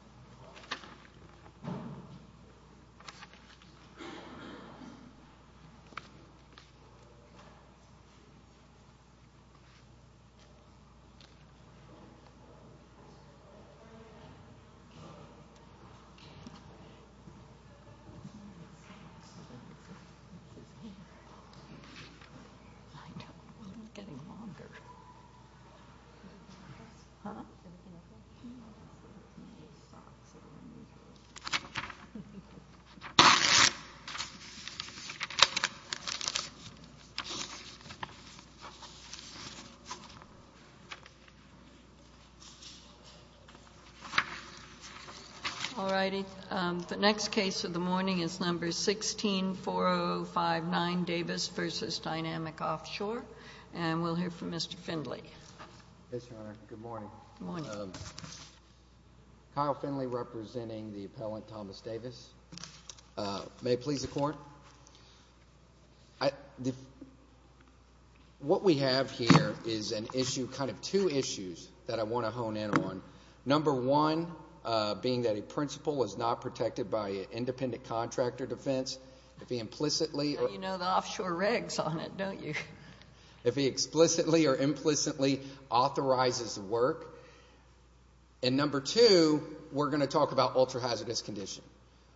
LLM Health and Social Services The next case of the morning is number 16-4059, Davis v. Dynamic Offshore, and we'll hear from Mr. Findley. Yes, Your Honor. Good morning. Good morning. Kyle Findley, representing the appellant Thomas Davis. May it please the Court? What we have here is an issue, kind of two issues, that I want to hone in on. Number one, being that a principal is not protected by an independent contractor defense, if he implicitly or You know the offshore regs on it, don't you? If he explicitly or implicitly authorizes the work. And number two, we're going to talk about ultra-hazardous condition.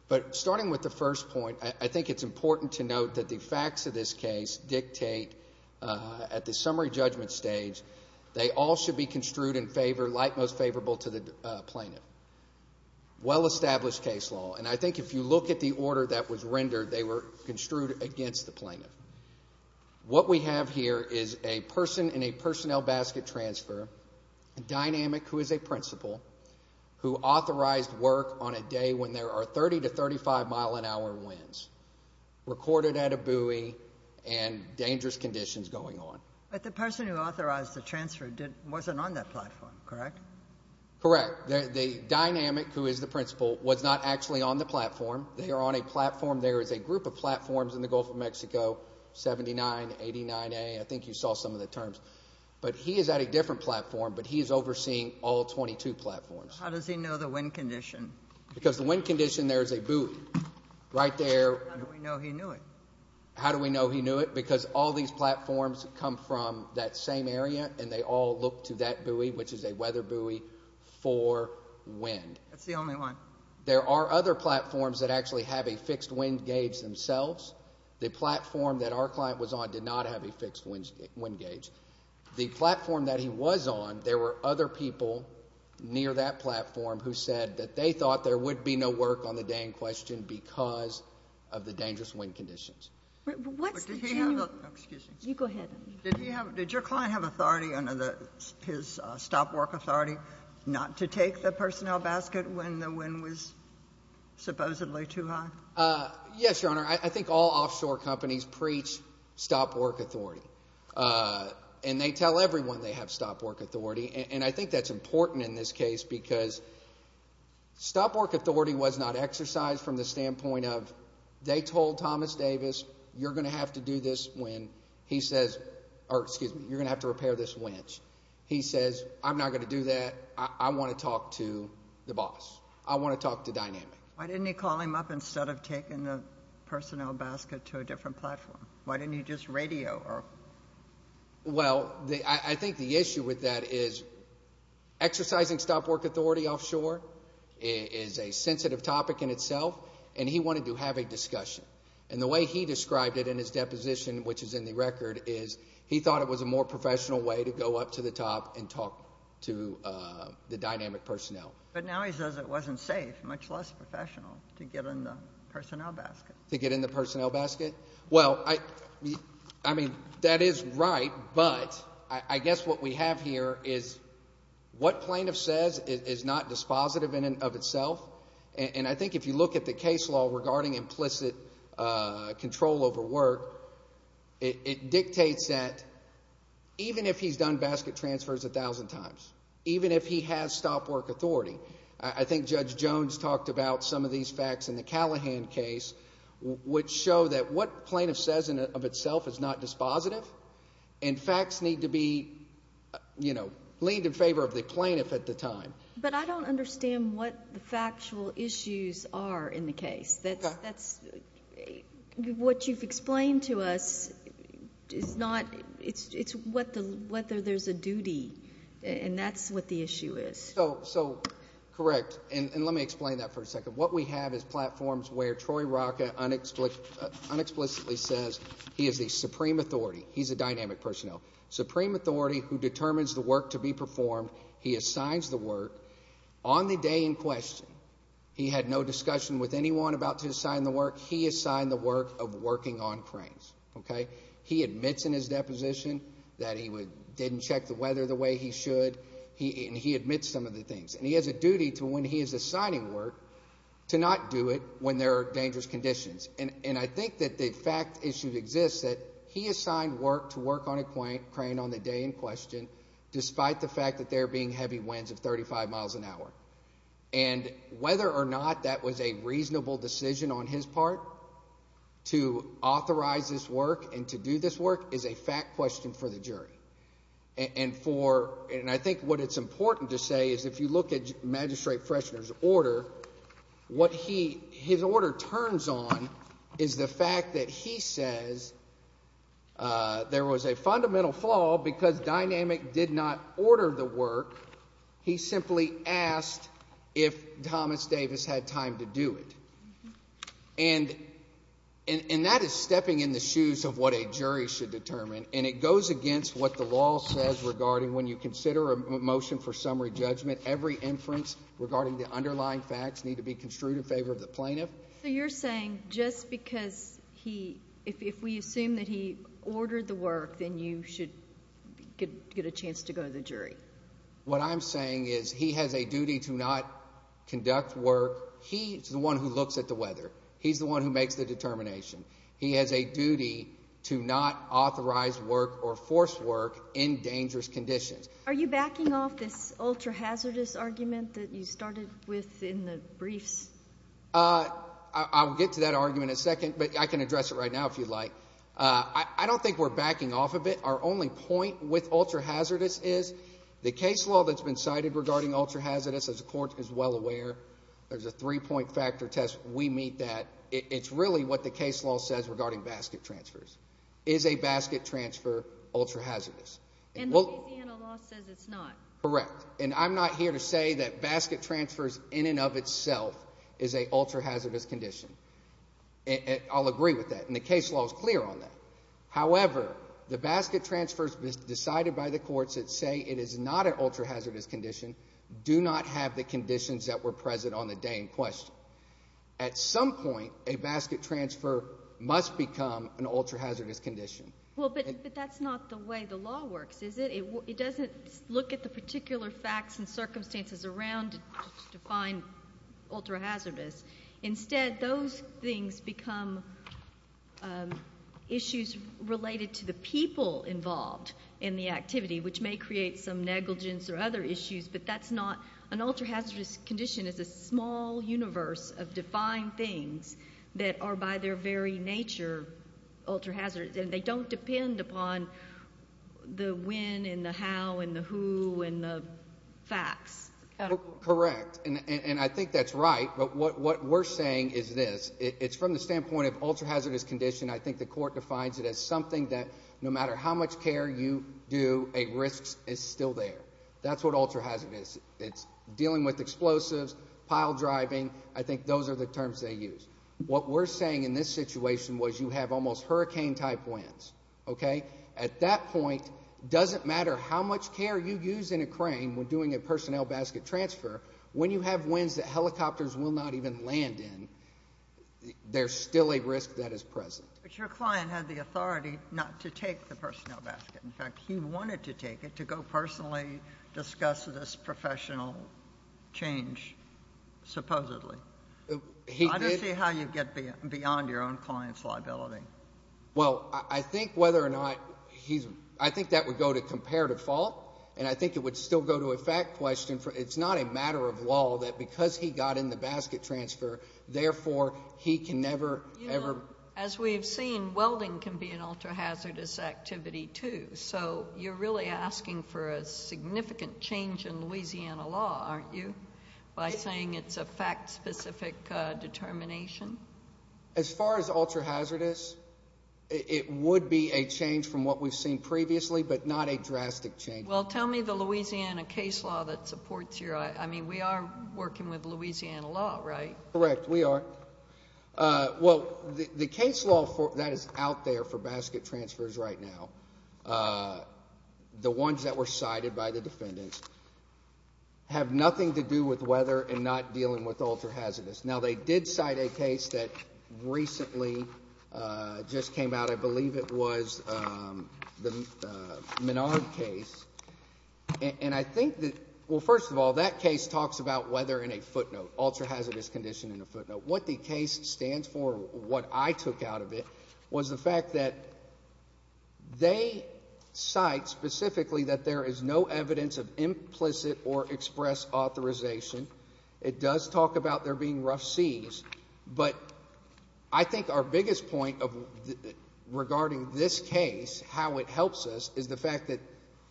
But starting with the first point, I think it's important to note that the facts of this case dictate, at the summary judgment stage, they all should be construed in favor, like most favorable to the plaintiff. Well-established case law. And I think if you look at the order that was rendered, they were construed against the plaintiff. What we have here is a person in a personnel basket transfer, Dynamic, who is a principal, who authorized work on a day when there are 30 to 35 mile an hour winds, recorded at a buoy, and dangerous conditions going on. But the person who authorized the transfer wasn't on that platform, correct? Correct. The Dynamic, who is the principal, was not actually on the platform. They are on a platform. There is a group of platforms in the Gulf of Mexico, 79, 89A, I think you saw some of the terms. But he is at a different platform, but he is overseeing all 22 platforms. How does he know the wind condition? Because the wind condition, there is a buoy right there. How do we know he knew it? How do we know he knew it? Because all these platforms come from that same area, and they all look to that buoy, which is a weather buoy, for wind. That's the only one. Excuse me. You go ahead. Did your client have authority, his stop work authority, not to take the personnel basket when the wind was supposedly too high? Yes, Your Honor. I think all offshore companies preach stop work authority. And they tell everyone they have stop work authority, and I think that's important in this case because stop work authority was not exercised from the standpoint of they told Thomas Davis, you're going to have to do this when he says – or excuse me, you're going to have to repair this winch. He says, I'm not going to do that. I want to talk to the boss. I want to talk to Dynamic. Why didn't he call him up instead of taking the personnel basket to a different platform? Why didn't he just radio? Well, I think the issue with that is exercising stop work authority offshore is a sensitive topic in itself, and he wanted to have a discussion. And the way he described it in his deposition, which is in the record, is he thought it was a more professional way to go up to the top and talk to the Dynamic personnel. But now he says it wasn't safe, much less professional, to get in the personnel basket. To get in the personnel basket. Well, I mean that is right, but I guess what we have here is what plaintiff says is not dispositive of itself. And I think if you look at the case law regarding implicit control over work, it dictates that even if he's done basket transfers a thousand times, even if he has stop work authority, I think Judge Jones talked about some of these facts in the Callahan case which show that what plaintiff says of itself is not dispositive, and facts need to be leaned in favor of the plaintiff at the time. But I don't understand what the factual issues are in the case. What you've explained to us is not – it's whether there's a duty, and that's what the issue is. So, correct, and let me explain that for a second. What we have is platforms where Troy Rocca unexplicitly says he is a supreme authority. He's a Dynamic personnel. Supreme authority who determines the work to be performed. He assigns the work. On the day in question, he had no discussion with anyone about to assign the work. He assigned the work of working on cranes. He admits in his deposition that he didn't check the weather the way he should, and he admits some of the things. And he has a duty to when he is assigning work to not do it when there are dangerous conditions. And I think that the fact issue exists that he assigned work to work on a crane on the day in question despite the fact that there are being heavy winds of 35 miles an hour. And whether or not that was a reasonable decision on his part to authorize this work and to do this work is a fact question for the jury. And for, and I think what it's important to say is if you look at Magistrate Freshner's order, what he, his order turns on is the fact that he says there was a fundamental flaw because Dynamic did not order the work. He simply asked if Thomas Davis had time to do it. And that is stepping in the shoes of what a jury should determine. And it goes against what the law says regarding when you consider a motion for summary judgment, every inference regarding the underlying facts need to be construed in favor of the plaintiff. So you're saying just because he, if we assume that he ordered the work, then you should get a chance to go to the jury. What I'm saying is he has a duty to not conduct work. He's the one who looks at the weather. He's the one who makes the determination. He has a duty to not authorize work or force work in dangerous conditions. Are you backing off this ultra-hazardous argument that you started with in the briefs? I'll get to that argument in a second, but I can address it right now if you'd like. I don't think we're backing off of it. Our only point with ultra-hazardous is the case law that's been cited regarding ultra-hazardous, as the court is well aware, there's a three-point factor test. We meet that. It's really what the case law says regarding basket transfers. Is a basket transfer ultra-hazardous? And Louisiana law says it's not. Correct. And I'm not here to say that basket transfers in and of itself is a ultra-hazardous condition. I'll agree with that, and the case law is clear on that. However, the basket transfers decided by the courts that say it is not an ultra-hazardous condition do not have the conditions that were present on the day in question. At some point, a basket transfer must become an ultra-hazardous condition. Well, but that's not the way the law works, is it? It doesn't look at the particular facts and circumstances around to define ultra-hazardous. Instead, those things become issues related to the people involved in the activity, which may create some negligence or other issues, but that's not. An ultra-hazardous condition is a small universe of defined things that are by their very nature ultra-hazardous, and they don't depend upon the when and the how and the who and the facts. Correct. And I think that's right, but what we're saying is this. It's from the standpoint of ultra-hazardous condition. I think the court defines it as something that no matter how much care you do, a risk is still there. That's what ultra-hazardous is. It's dealing with explosives, pile driving. I think those are the terms they use. What we're saying in this situation was you have almost hurricane-type winds. At that point, it doesn't matter how much care you use in a crane when doing a personnel basket transfer. When you have winds that helicopters will not even land in, there's still a risk that is present. But your client had the authority not to take the personnel basket. In fact, he wanted to take it to go personally discuss this professional change, supposedly. I don't see how you get beyond your own client's liability. Well, I think whether or not he's—I think that would go to comparative fault, and I think it would still go to a fact question. It's not a matter of law that because he got in the basket transfer, therefore, he can never, ever— As we've seen, welding can be an ultra-hazardous activity, too. So you're really asking for a significant change in Louisiana law, aren't you, by saying it's a fact-specific determination? As far as ultra-hazardous, it would be a change from what we've seen previously, but not a drastic change. Well, tell me the Louisiana case law that supports your—I mean, we are working with Louisiana law, right? Correct, we are. Well, the case law that is out there for basket transfers right now, the ones that were cited by the defendants, have nothing to do with weather and not dealing with ultra-hazardous. Now, they did cite a case that recently just came out. I believe it was the Menard case, and I think that—well, first of all, that case talks about weather in a footnote, ultra-hazardous condition in a footnote. What the case stands for, what I took out of it, was the fact that they cite specifically that there is no evidence of implicit or express authorization. It does talk about there being rough seas, but I think our biggest point regarding this case, how it helps us, is the fact that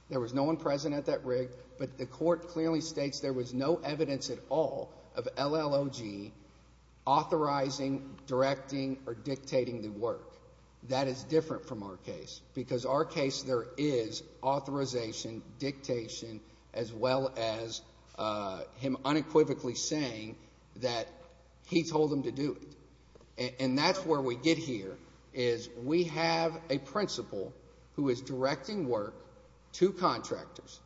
there was no one present at that rig, but the court clearly states there was no evidence at all of LLOG authorizing, directing, or dictating the work. That is different from our case, because our case, there is authorization, dictation, as well as him unequivocally saying that he told them to do it. And that's where we get here, is we have a principal who is directing work to contractors.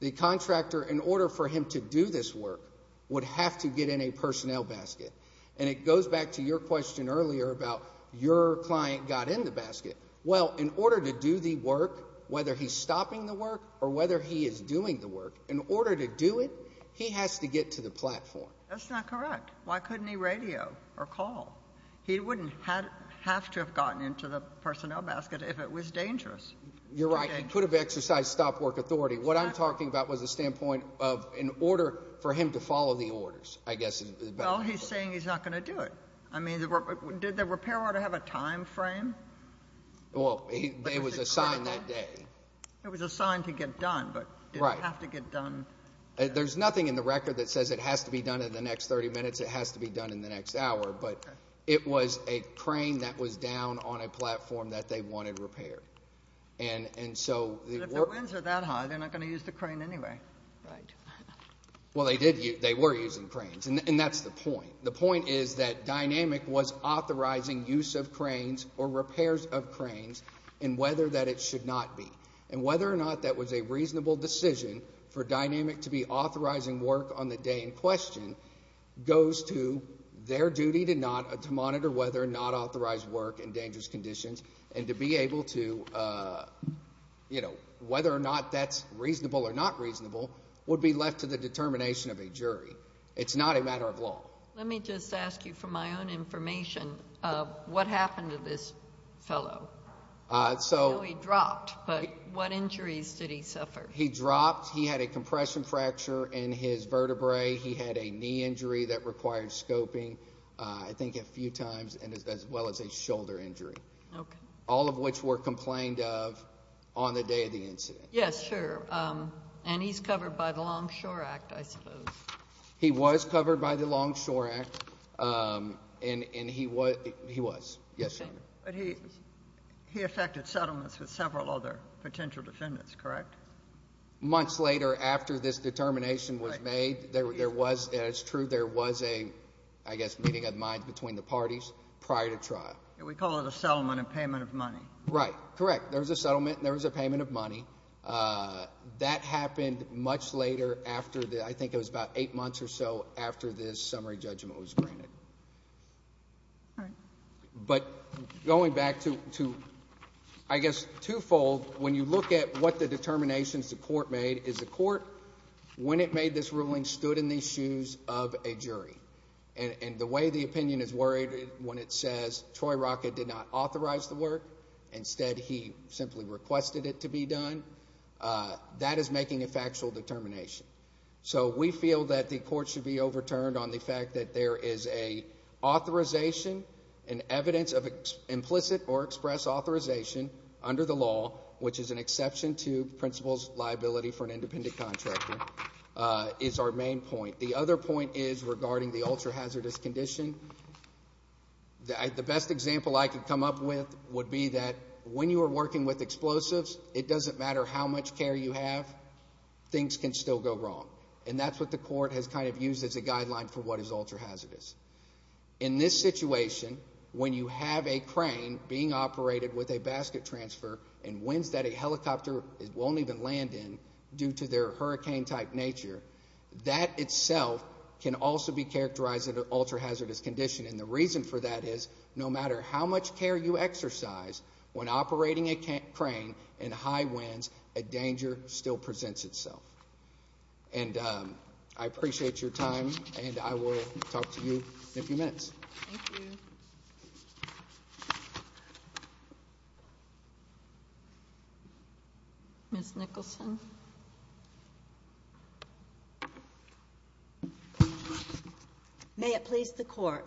The contractor, in order for him to do this work, would have to get in a personnel basket. And it goes back to your question earlier about your client got in the basket. Well, in order to do the work, whether he's stopping the work or whether he is doing the work, in order to do it, he has to get to the platform. That's not correct. Why couldn't he radio or call? He wouldn't have to have gotten into the personnel basket if it was dangerous. You're right. He could have exercised stop-work authority. Well, he's saying he's not going to do it. I mean, did the repair order have a time frame? Well, it was assigned that day. It was assigned to get done, but it didn't have to get done. There's nothing in the record that says it has to be done in the next 30 minutes. It has to be done in the next hour. But it was a crane that was down on a platform that they wanted repaired. But if the winds are that high, they're not going to use the crane anyway. Well, they were using cranes, and that's the point. The point is that DYNAMIC was authorizing use of cranes or repairs of cranes and whether that it should not be. And whether or not that was a reasonable decision for DYNAMIC to be authorizing work on the day in question goes to their duty to monitor whether or not authorized work in dangerous conditions and to be able to, you know, whether or not that's reasonable or not reasonable would be left to the determination of a jury. It's not a matter of law. Let me just ask you for my own information of what happened to this fellow. I know he dropped, but what injuries did he suffer? He dropped. He had a compression fracture in his vertebrae. He had a knee injury that required scoping I think a few times as well as a shoulder injury. Okay. All of which were complained of on the day of the incident. Yes, sure. And he's covered by the Longshore Act, I suppose. He was covered by the Longshore Act, and he was. Yes, Your Honor. But he affected settlements with several other potential defendants, correct? Months later after this determination was made, there was, and it's true, there was a, I guess, meeting of the minds between the parties prior to trial. We call it a settlement and payment of money. Right. Correct. There was a settlement and there was a payment of money. That happened much later after the, I think it was about eight months or so, after this summary judgment was granted. All right. But going back to, I guess, twofold, when you look at what the determinations the court made is the court, when it made this ruling, stood in the shoes of a jury. And the way the opinion is worded when it says Troy Rocket did not authorize the work, instead he simply requested it to be done, that is making a factual determination. So we feel that the court should be overturned on the fact that there is an authorization, an evidence of implicit or express authorization under the law, which is an exception to principles liability for an independent contractor, is our main point. The other point is regarding the ultra-hazardous condition. The best example I could come up with would be that when you are working with explosives, it doesn't matter how much care you have, things can still go wrong. And that's what the court has kind of used as a guideline for what is ultra-hazardous. In this situation, when you have a crane being operated with a basket transfer and winds that a helicopter won't even land in due to their hurricane-type nature, that itself can also be characterized as an ultra-hazardous condition. And the reason for that is no matter how much care you exercise when operating a crane in high winds, a danger still presents itself. And I appreciate your time, and I will talk to you in a few minutes. Thank you. Ms. Nicholson. May it please the Court.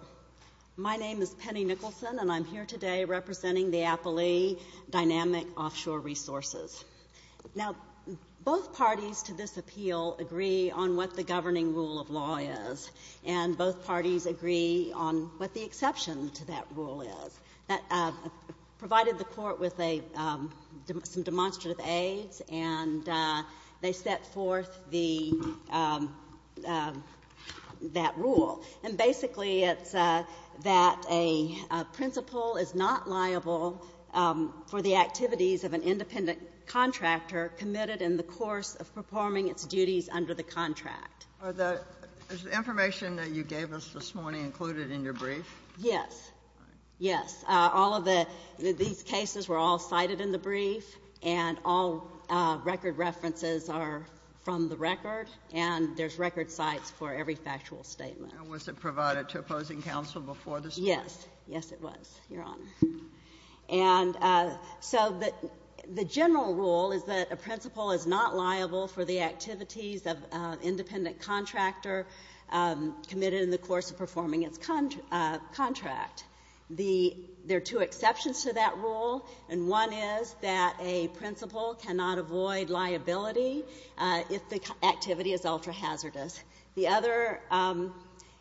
My name is Penny Nicholson, and I'm here today representing the Appellee Dynamic Offshore Resources. Now, both parties to this appeal agree on what the governing rule of law is, and both parties agree on what the exception to that rule is. And that is that provided the Court with some demonstrative aides, and they set forth the rule. And basically, it's that a principal is not liable for the activities of an independent contractor committed in the course of performing its duties under the contract. Is the information that you gave us this morning included in your brief? Yes. Yes. All of the cases were all cited in the brief, and all record references are from the record, and there's record cites for every factual statement. And was it provided to opposing counsel before this Court? Yes. Yes, it was, Your Honor. And so the general rule is that a principal is not liable for the activities of an independent contractor committed in the course of performing its contract. There are two exceptions to that rule, and one is that a principal cannot avoid liability if the activity is ultra-hazardous. The other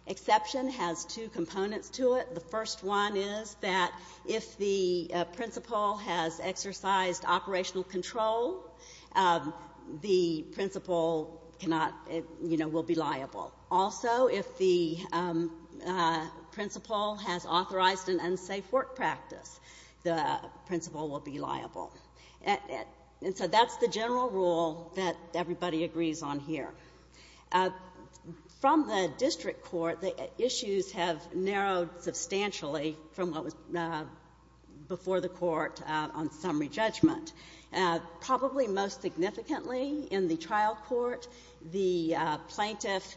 exception has two components to it. The first one is that if the principal has exercised operational control, the principal cannot, you know, will be liable. Also, if the principal has authorized an unsafe work practice, the principal will be liable. And so that's the general rule that everybody agrees on here. From the district court, the issues have narrowed substantially from what was before the Court on summary judgment. Probably most significantly in the trial court, the plaintiff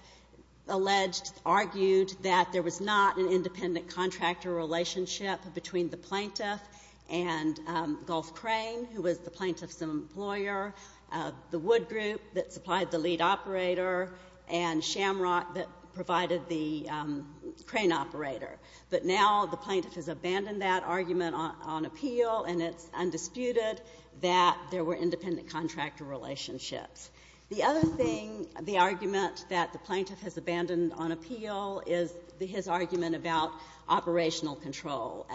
alleged, argued that there was not an independent contractor relationship between the plaintiff and Gulf Crane, who was the plaintiff's employer, the Wood Group that supplied the lead operator, and Shamrock that provided the crane operator. But now the plaintiff has abandoned that argument on appeal, and it's undisputed that there were independent contractor relationships. The other thing, the argument that the plaintiff has abandoned on appeal, is his argument about operational control.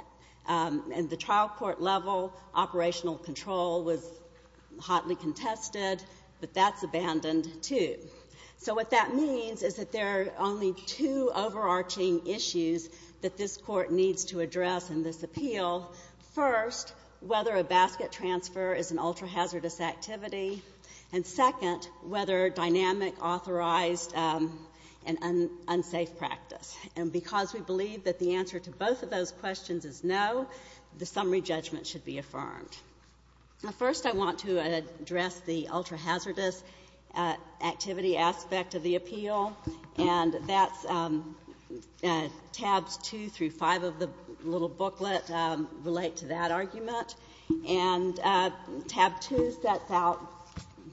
And the trial court level, operational control was hotly contested, but that's abandoned, too. So what that means is that there are only two overarching issues that this Court needs to address in this appeal. First, whether a basket transfer is an ultra-hazardous activity. And second, whether dynamic authorized and unsafe practice. And because we believe that the answer to both of those questions is no, the summary judgment should be affirmed. Now, first, I want to address the ultra-hazardous activity aspect of the appeal. And that's tabs 2 through 5 of the little booklet relate to that argument. And tab 2 sets out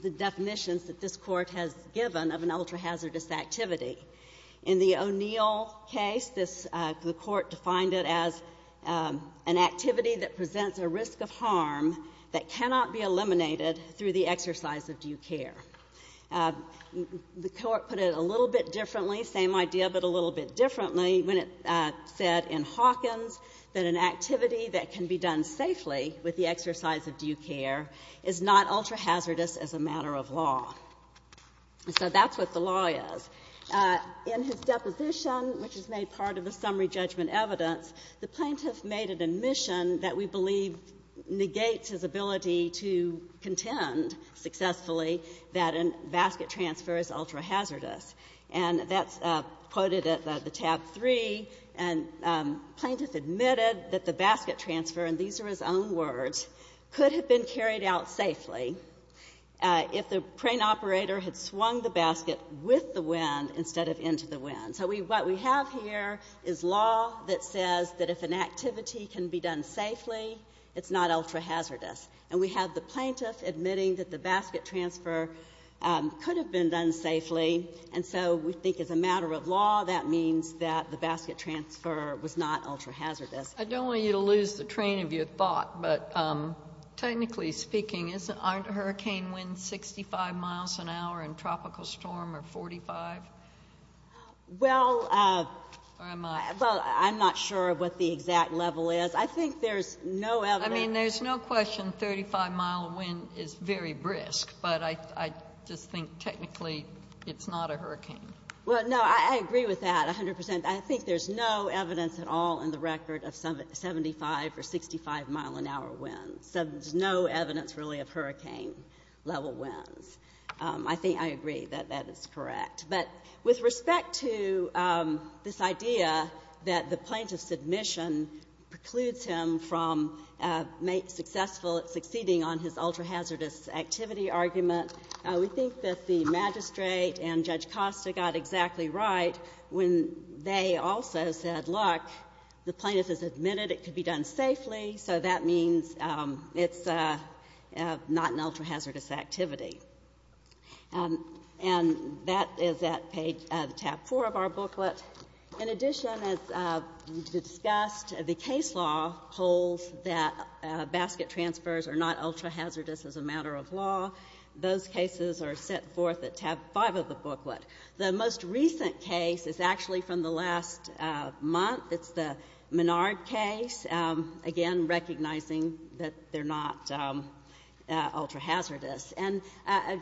the definitions that this Court has given of an ultra-hazardous activity. In the O'Neill case, the Court defined it as an activity that presents a risk of harm that cannot be eliminated through the exercise of due care. The Court put it a little bit differently, same idea but a little bit differently, when it said in Hawkins that an activity that can be done safely with the exercise of due care is not ultra-hazardous as a matter of law. So that's what the law is. In his deposition, which is made part of the summary judgment evidence, the plaintiff made an admission that we believe negates his ability to contend successfully that a basket transfer is ultra-hazardous. And that's quoted at the tab 3. And the plaintiff admitted that the basket transfer, and these are his own words, could have been carried out safely if the crane operator had swung the basket with the wind instead of into the wind. So what we have here is law that says that if an activity can be done safely, it's not ultra-hazardous. And we have the plaintiff admitting that the basket transfer could have been done safely. And so we think as a matter of law, that means that the basket transfer was not ultra-hazardous. Sotomayor, I don't want you to lose the train of your thought, but technically speaking, aren't hurricane winds 65 miles an hour in Tropical Storm or 45? Or am I? Well, I'm not sure what the exact level is. I think there's no evidence. I mean, there's no question 35-mile wind is very brisk. But I just think technically it's not a hurricane. Well, no, I agree with that 100 percent. I think there's no evidence at all in the record of 75 or 65-mile-an-hour winds. There's no evidence, really, of hurricane-level winds. I think I agree that that is correct. But with respect to this idea that the plaintiff's admission precludes him from successful at succeeding on his ultra-hazardous activity argument, we think that the A also said, look, the plaintiff has admitted it could be done safely, so that means it's not an ultra-hazardous activity. And that is at page tab 4 of our booklet. In addition, as discussed, the case law holds that basket transfers are not ultra-hazardous as a matter of law. Those cases are set forth at tab 5 of the booklet. The most recent case is actually from the last month. It's the Menard case, again, recognizing that they're not ultra-hazardous. And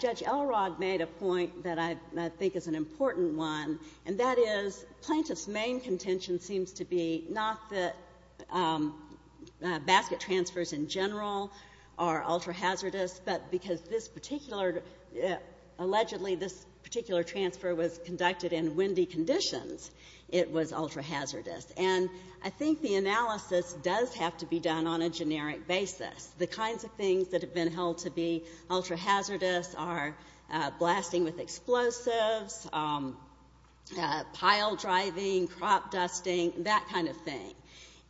Judge Elrod made a point that I think is an important one, and that is plaintiff's main contention seems to be not that basket transfers in general are ultra-hazardous, but because this particular, allegedly this particular transfer was conducted in windy conditions, it was ultra-hazardous. And I think the analysis does have to be done on a generic basis. The kinds of things that have been held to be ultra-hazardous are blasting with explosives, pile driving, crop dusting, that kind of thing.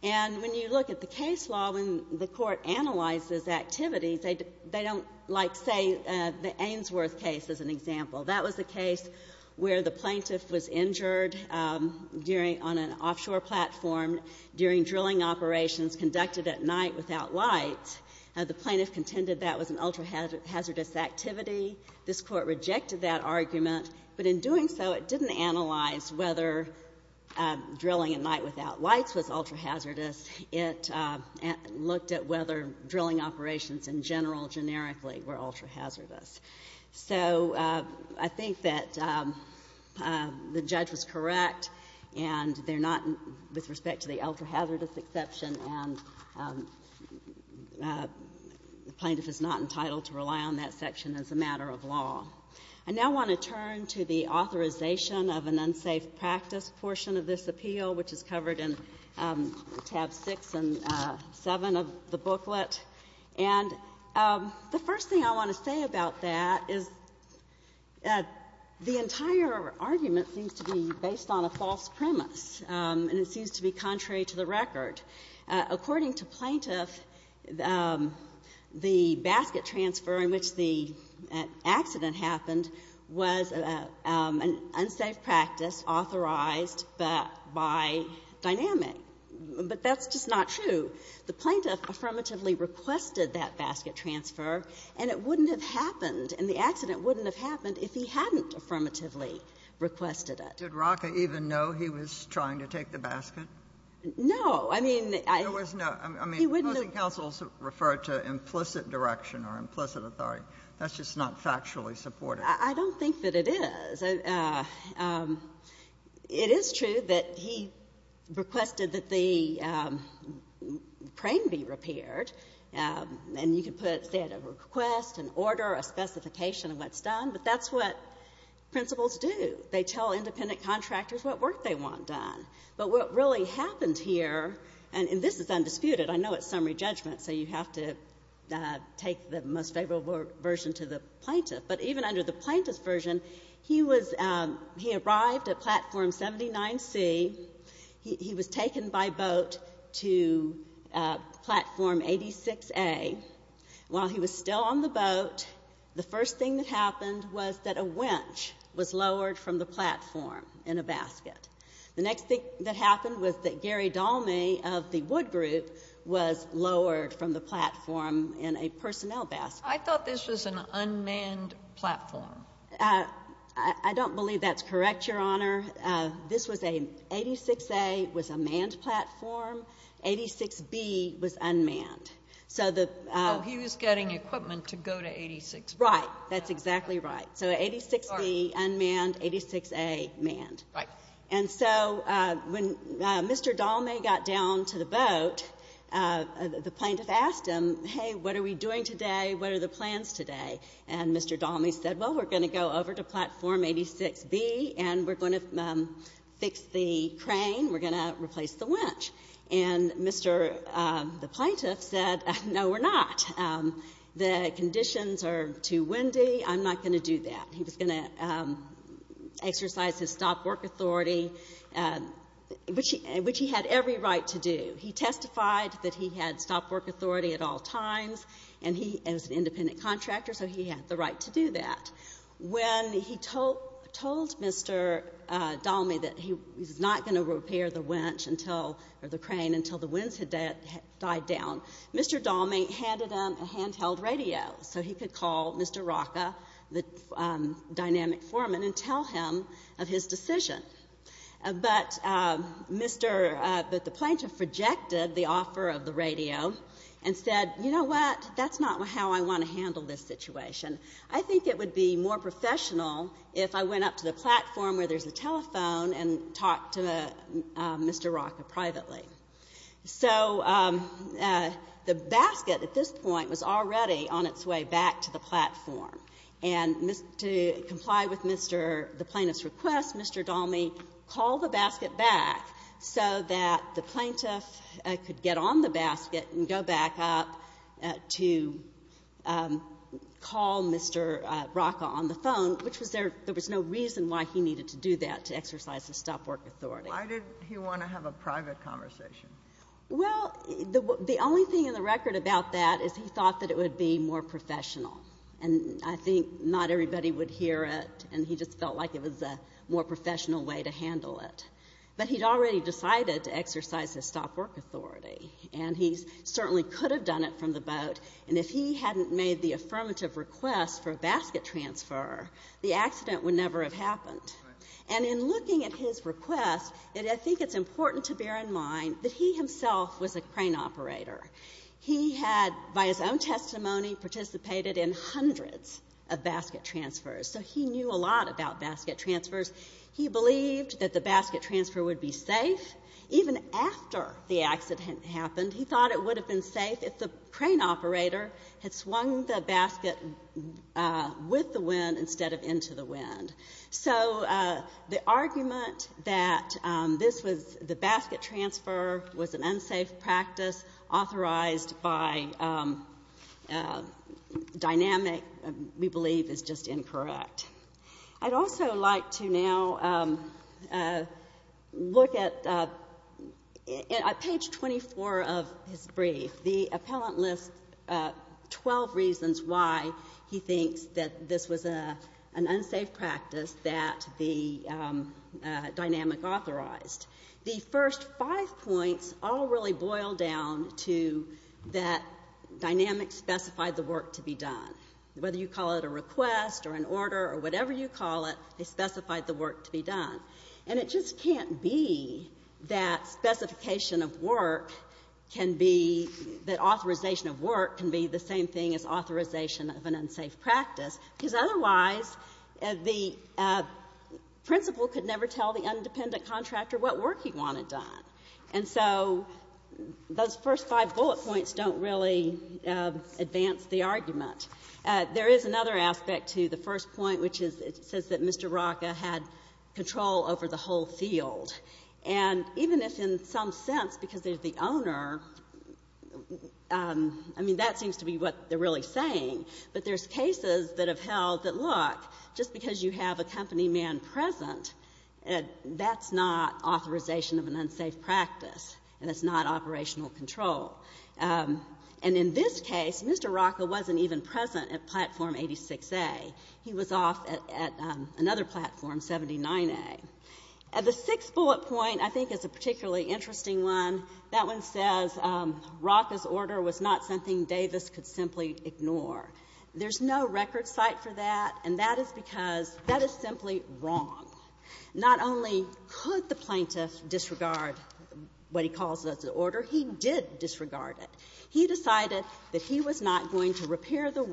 And when you look at the case law, when the Court analyzes activities, they don't like, say, the Ainsworth case as an example. That was a case where the plaintiff was injured during an offshore platform during drilling operations conducted at night without lights. The plaintiff contended that was an ultra-hazardous activity. This Court rejected that argument, but in doing so, it didn't analyze whether drilling at night without lights was ultra-hazardous. It looked at whether drilling operations in general, generically, were ultra-hazardous. So I think that the judge was correct, and they're not, with respect to the ultra-hazardous exception, and the plaintiff is not entitled to rely on that section as a matter of law. I now want to turn to the authorization of an unsafe practice portion of this appeal, which is covered in tab 6 and 7 of the booklet. And the first thing I want to say about that is the entire argument seems to be based on a false premise, and it seems to be contrary to the record. According to plaintiff, the basket transfer in which the accident happened was an unsafe practice authorized by Dynamic. But that's just not true. The plaintiff affirmatively requested that basket transfer, and it wouldn't have happened, and the accident wouldn't have happened if he hadn't affirmatively requested it. Ginsburg. Did Rocca even know he was trying to take the basket? No. I mean, I was not. I mean, he wouldn't have. I mean, most of the counsels refer to implicit direction or implicit authority. That's just not factually supported. I don't think that it is. It is true that he requested that the crane be repaired, and you can put, say, a request, an order, a specification of what's done, but that's what principals do. They tell independent contractors what work they want done. But what really happened here, and this is undisputed. I know it's summary judgment, so you have to take the most favorable version to the plaintiff. But even under the plaintiff's version, he was — he arrived at Platform 79C. He was taken by boat to Platform 86A. While he was still on the boat, the first thing that happened was that a wench was lowered from the platform in a basket. The next thing that happened was that Gary Dolme of the Wood Group was lowered from the platform in a personnel basket. I thought this was an unmanned platform. I don't believe that's correct, Your Honor. This was a — 86A was a manned platform. 86B was unmanned. So the — Oh, he was getting equipment to go to 86B. Right. That's exactly right. So 86B unmanned, 86A manned. Right. And so when Mr. Dolme got down to the boat, the plaintiff asked him, hey, what are we doing today? What are the plans today? And Mr. Dolme said, well, we're going to go over to Platform 86B, and we're going to fix the crane. We're going to replace the wench. And Mr. — the plaintiff said, no, we're not. The conditions are too windy. I'm not going to do that. He was going to exercise his stop-work authority, which he had every right to do. He testified that he had stop-work authority at all times, and he was an independent contractor, so he had the right to do that. When he told Mr. Dolme that he was not going to repair the wench until — or the crane until the winds had died down, Mr. Dolme handed him a handheld radio so he could call Mr. Rocca, the dynamic foreman, and tell him of his decision. But Mr. — but the plaintiff rejected the offer of the radio and said, you know what? That's not how I want to handle this situation. I think it would be more professional if I went up to the platform where there's a telephone and talked to Mr. Rocca privately. So the basket at this point was already on its way back to the platform, and to comply with Mr. — the plaintiff's request, Mr. Dolme called the basket back so that the plaintiff could get on the basket and go back up to call Mr. Rocca on the phone, which was there — there was no reason why he needed to do that, to exercise his stop-work authority. Why did he want to have a private conversation? Well, the only thing in the record about that is he thought that it would be more professional, and I think not everybody would hear it, and he just felt like it was a more professional way to handle it. But he'd already decided to exercise his stop-work authority, and he certainly could have done it from the boat, and if he hadn't made the affirmative request for a basket transfer, the accident would never have happened. And in looking at his request, I think it's important to bear in mind that he himself was a crane operator. He had, by his own testimony, participated in hundreds of basket transfers, so he knew a lot about basket transfers. He believed that the basket transfer would be safe. Even after the accident happened, he thought it would have been safe if the crane operator had swung the basket with the wind instead of into the wind. So the argument that this was — the basket transfer was an unsafe practice authorized by dynamic, we believe, is just incorrect. I'd also like to now look at page 24 of his brief. The appellant lists 12 reasons why he thinks that this was an unsafe practice that the dynamic authorized. The first five points all really boil down to that dynamic specified the work to be done. Whether you call it a request or an order or whatever you call it, they specified the work to be done. And it just can't be that specification of work can be — that authorization of work can be the same thing as authorization of an unsafe practice, because otherwise the principal could never tell the independent contractor what work he wanted done. And so those first five bullet points don't really advance the argument. There is another aspect to the first point, which is it says that Mr. Rocca had control over the whole field. And even if in some sense, because there's the owner, I mean, that seems to be what they're really saying, but there's cases that have held that, look, just because you have a company man present, that's not authorization of an unsafe practice, and it's not operational control. And in this case, Mr. Rocca wasn't even present at Platform 86A. He was off at another platform, 79A. The sixth bullet point, I think, is a particularly interesting one. That one says Rocca's because that is simply wrong. Not only could the plaintiff disregard what he calls the order, he did disregard it. He decided that he was not going to repair the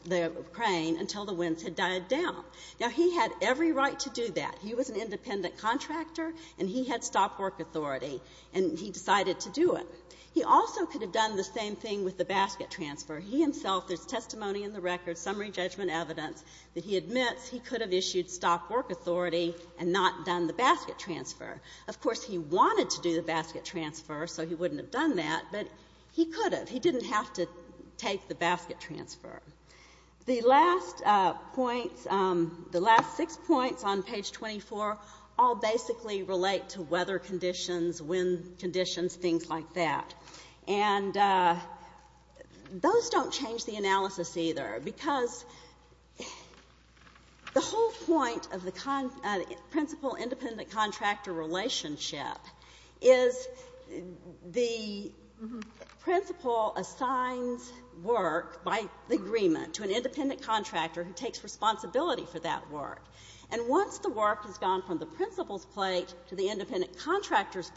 — the crane until the winds had died down. Now, he had every right to do that. He was an independent contractor, and he had stop-work authority, and he decided to do it. He also could have done the same thing with the basket transfer. He himself, there's testimony in the record, summary judgment evidence, that he admits he could have issued stop-work authority and not done the basket transfer. Of course, he wanted to do the basket transfer, so he wouldn't have done that, but he could have. He didn't have to take the basket transfer. The last points — the last six points on page 24 all basically relate to weather conditions, wind conditions, things like that. And those don't change the analysis, either, because the whole point of the principal-independent-contractor relationship is the principal assigns work by agreement to an independent contractor who takes responsibility for that work. And once the work has gone from the principal's plate to the independent contractor's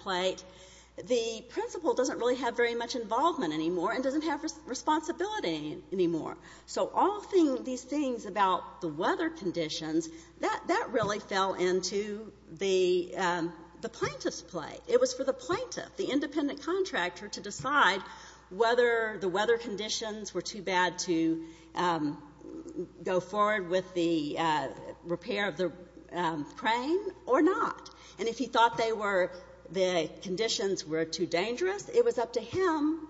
involvement anymore and doesn't have responsibility anymore. So all these things about the weather conditions, that really fell into the plaintiff's plate. It was for the plaintiff, the independent contractor, to decide whether the weather conditions were too bad to go forward with the repair of the crane or not. And if he thought they were — the conditions were too dangerous, it was up to him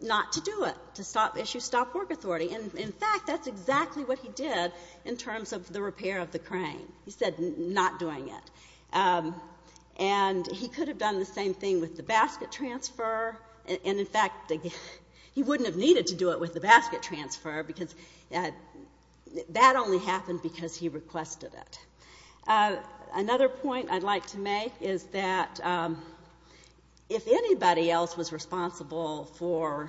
not to do it, to issue stop-work authority. And, in fact, that's exactly what he did in terms of the repair of the crane. He said not doing it. And he could have done the same thing with the basket transfer. And, in fact, he wouldn't have needed to do it with the basket transfer, because that only happened because he requested it. Another point I'd like to make is that if anybody else was responsible for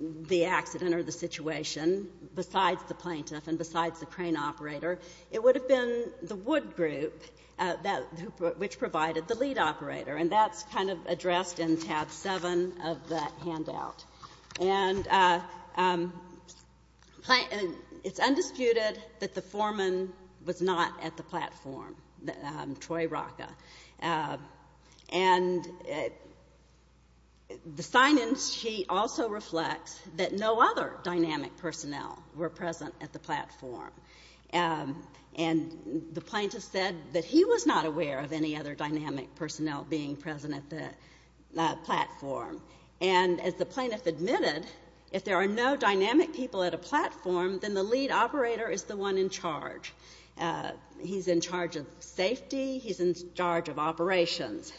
the accident or the situation, besides the plaintiff and besides the crane operator, it would have been the wood group, which provided the lead operator. And that's kind of — it's undisputed that the foreman was not at the platform, Troy Rocca. And the sign-in sheet also reflects that no other dynamic personnel were present at the platform. And the plaintiff said that he was not aware of any other dynamic personnel being present at the platform, then the lead operator is the one in charge. He's in charge of safety. He's in charge of operations.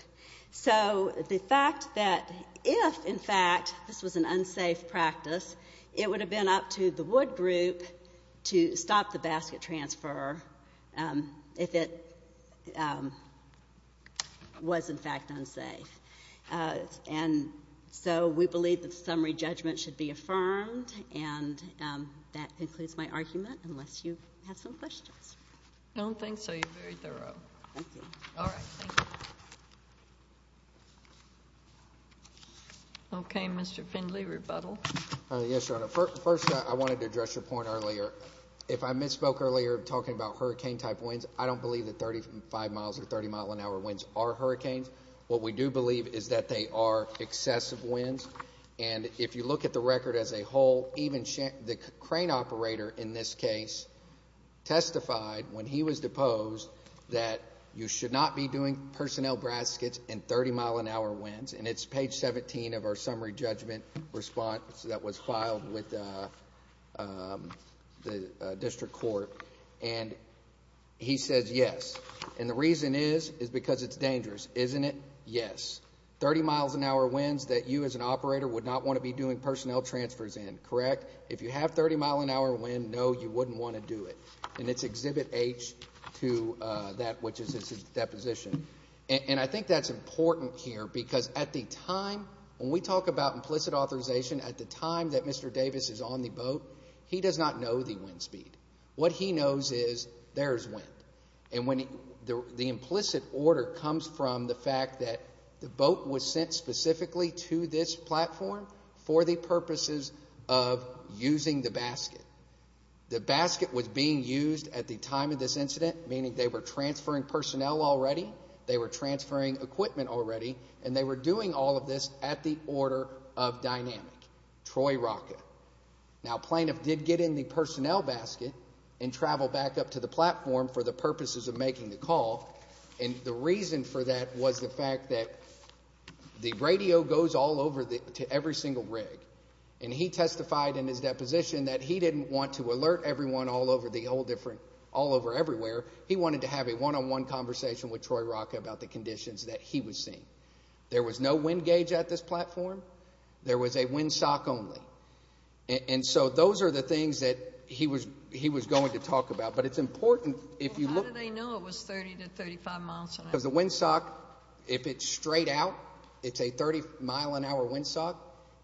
So the fact that if, in fact, this was an unsafe practice, it would have been up to the wood group to stop the basket transfer if it was, in fact, unsafe. And so we believe that summary judgment should be affirmed. And that concludes my argument, unless you have some questions. I don't think so. You're very thorough. Thank you. Okay. Mr. Findley, rebuttal. Yes, Your Honor. First, I wanted to address your point earlier. If I misspoke earlier talking about hurricane-type winds, I don't believe that 35 miles or 30-mile-an-hour winds are hurricanes. What we do believe is that they are excessive winds. And if you look at the record as a whole, even the crane operator in this case testified when he was deposed that you should not be doing personnel baskets in 30-mile-an-hour winds. And it's page 17 of our summary judgment response that was filed with the district court. And he says yes. And the reason is, is because it's dangerous. Isn't it? Yes. 30-mile-an-hour winds that you, as an operator, would not want to be doing personnel transfers in, correct? If you have 30-mile-an-hour winds, no, you wouldn't want to do it. And it's Exhibit H to that, which is his deposition. And I think that's important here, because at the time, when we talk about implicit authorization, at the time that Mr. Davis is on the boat, he does not know the wind speed. What he knows is there is wind. And when the implicit order comes from the fact that the boat was sent specifically to this platform for the purposes of using the basket. The basket was being used at the time of this incident, meaning they were transferring personnel already, they were transferring equipment already, and they were doing all of this at the order of dynamic. Troy Rocket. Now, a plaintiff did get in the personnel basket and travel back up to the platform for the purposes of making the call. And the reason for that was the fact that the radio goes all over to every single rig. And he testified in his deposition that he didn't want to alert everyone all over the whole different, all over everywhere. He wanted to have a one-on-one conversation with Troy Rocket about the conditions that he was seeing. There was no wind gauge at this platform. There was a wind sock only. And so those are the things that he was going to talk about. But it's important, if you look. Well, how did they know it was 30 to 35 miles an hour? Because the wind sock, if it's straight out, it's a 30 mile an hour wind sock.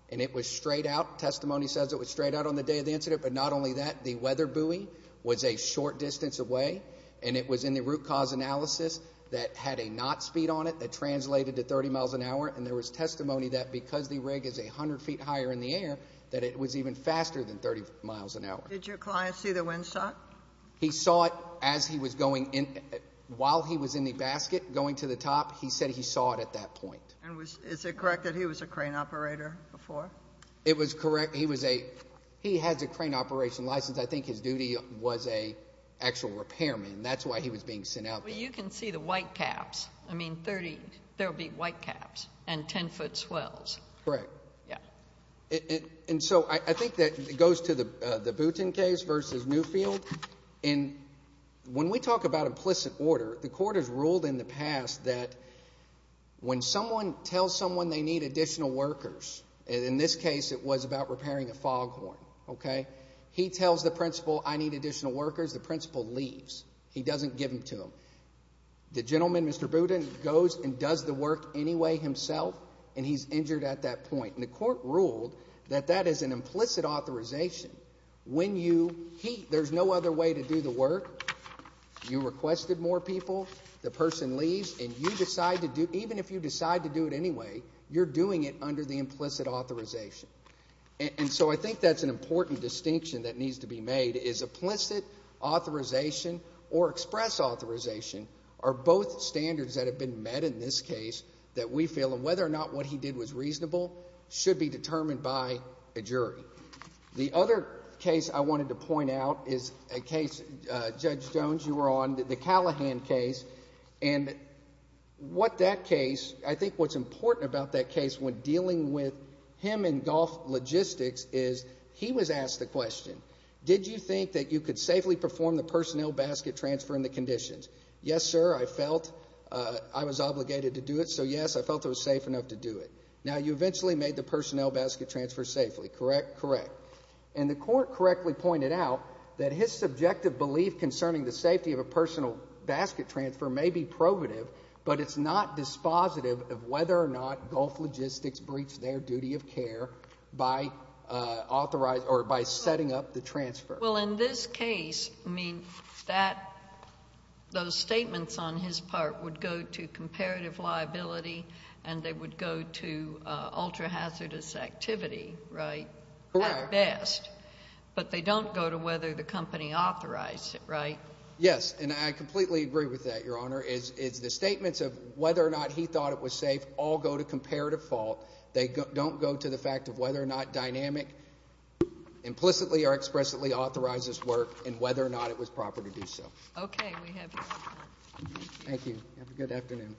And it was straight out. Testimony says it was straight out on the day of the incident. But not only that, the weather buoy was a short distance away. And it was in the root cause analysis that had a knot speed on it that translated to 30 miles an hour. And there was testimony that because the rig is 100 feet higher in the air, that it was even faster than 30 miles an hour. Did your client see the wind sock? He saw it as he was going in, while he was in the basket going to the top. He said he saw it at that point. And is it correct that he was a crane operator before? It was correct. He has a crane operation license. I think his duty was an actual repairman. That's why he was being sent out there. Well, you can see the white caps. I mean, there will be white caps and 10-foot swells. Correct. And so I think that goes to the Boonton case versus Newfield. And when we talk about implicit order, the court has ruled in the past that when someone tells someone they need additional workers, and in this case it was about repairing a foghorn. He tells the principal, I need additional workers. The principal leaves. He doesn't give them to him. The gentleman, Mr. Boonton, goes and does the work anyway himself, and he's injured at that point. And the court ruled that that is an implicit authorization. When you heat, there's no other way to do the work. You requested more people. The person leaves, and you decide to do, even if you decide to do it anyway, you're doing it under the implicit authorization. And so I think that's an important distinction that needs to be made, is implicit authorization or express authorization are both standards that have been met in this case that we feel, and whether or not what he did was reasonable, should be determined by a jury. The other case I wanted to point out is a case, Judge Jones, you were on, the Callahan case. And what that case, I think what's important about that case when dealing with him and golf logistics is he was asked the question, did you think that you could safely perform the personnel basket transfer in the conditions? Yes, sir, I felt I was obligated to do it, so yes, I felt it was safe enough to do it. Now, you eventually made the personnel basket transfer safely, correct? Correct. And the court correctly pointed out that his subjective belief concerning the safety of a personal basket transfer may be probative, but it's not dispositive of whether or not golf logistics breached their duty of care by setting up the transfer. Well, in this case, I mean, those statements on his part would go to comparative liability and they would go to ultra-hazardous activity, right? Correct. At best. But they don't go to whether the company authorized it, right? Yes, and I completely agree with that, Your Honor. The statements of whether or not he thought it was appropriate, I think, implicitly or expressly authorizes work and whether or not it was proper to do so. Okay, we have your order. Thank you. Have a good afternoon.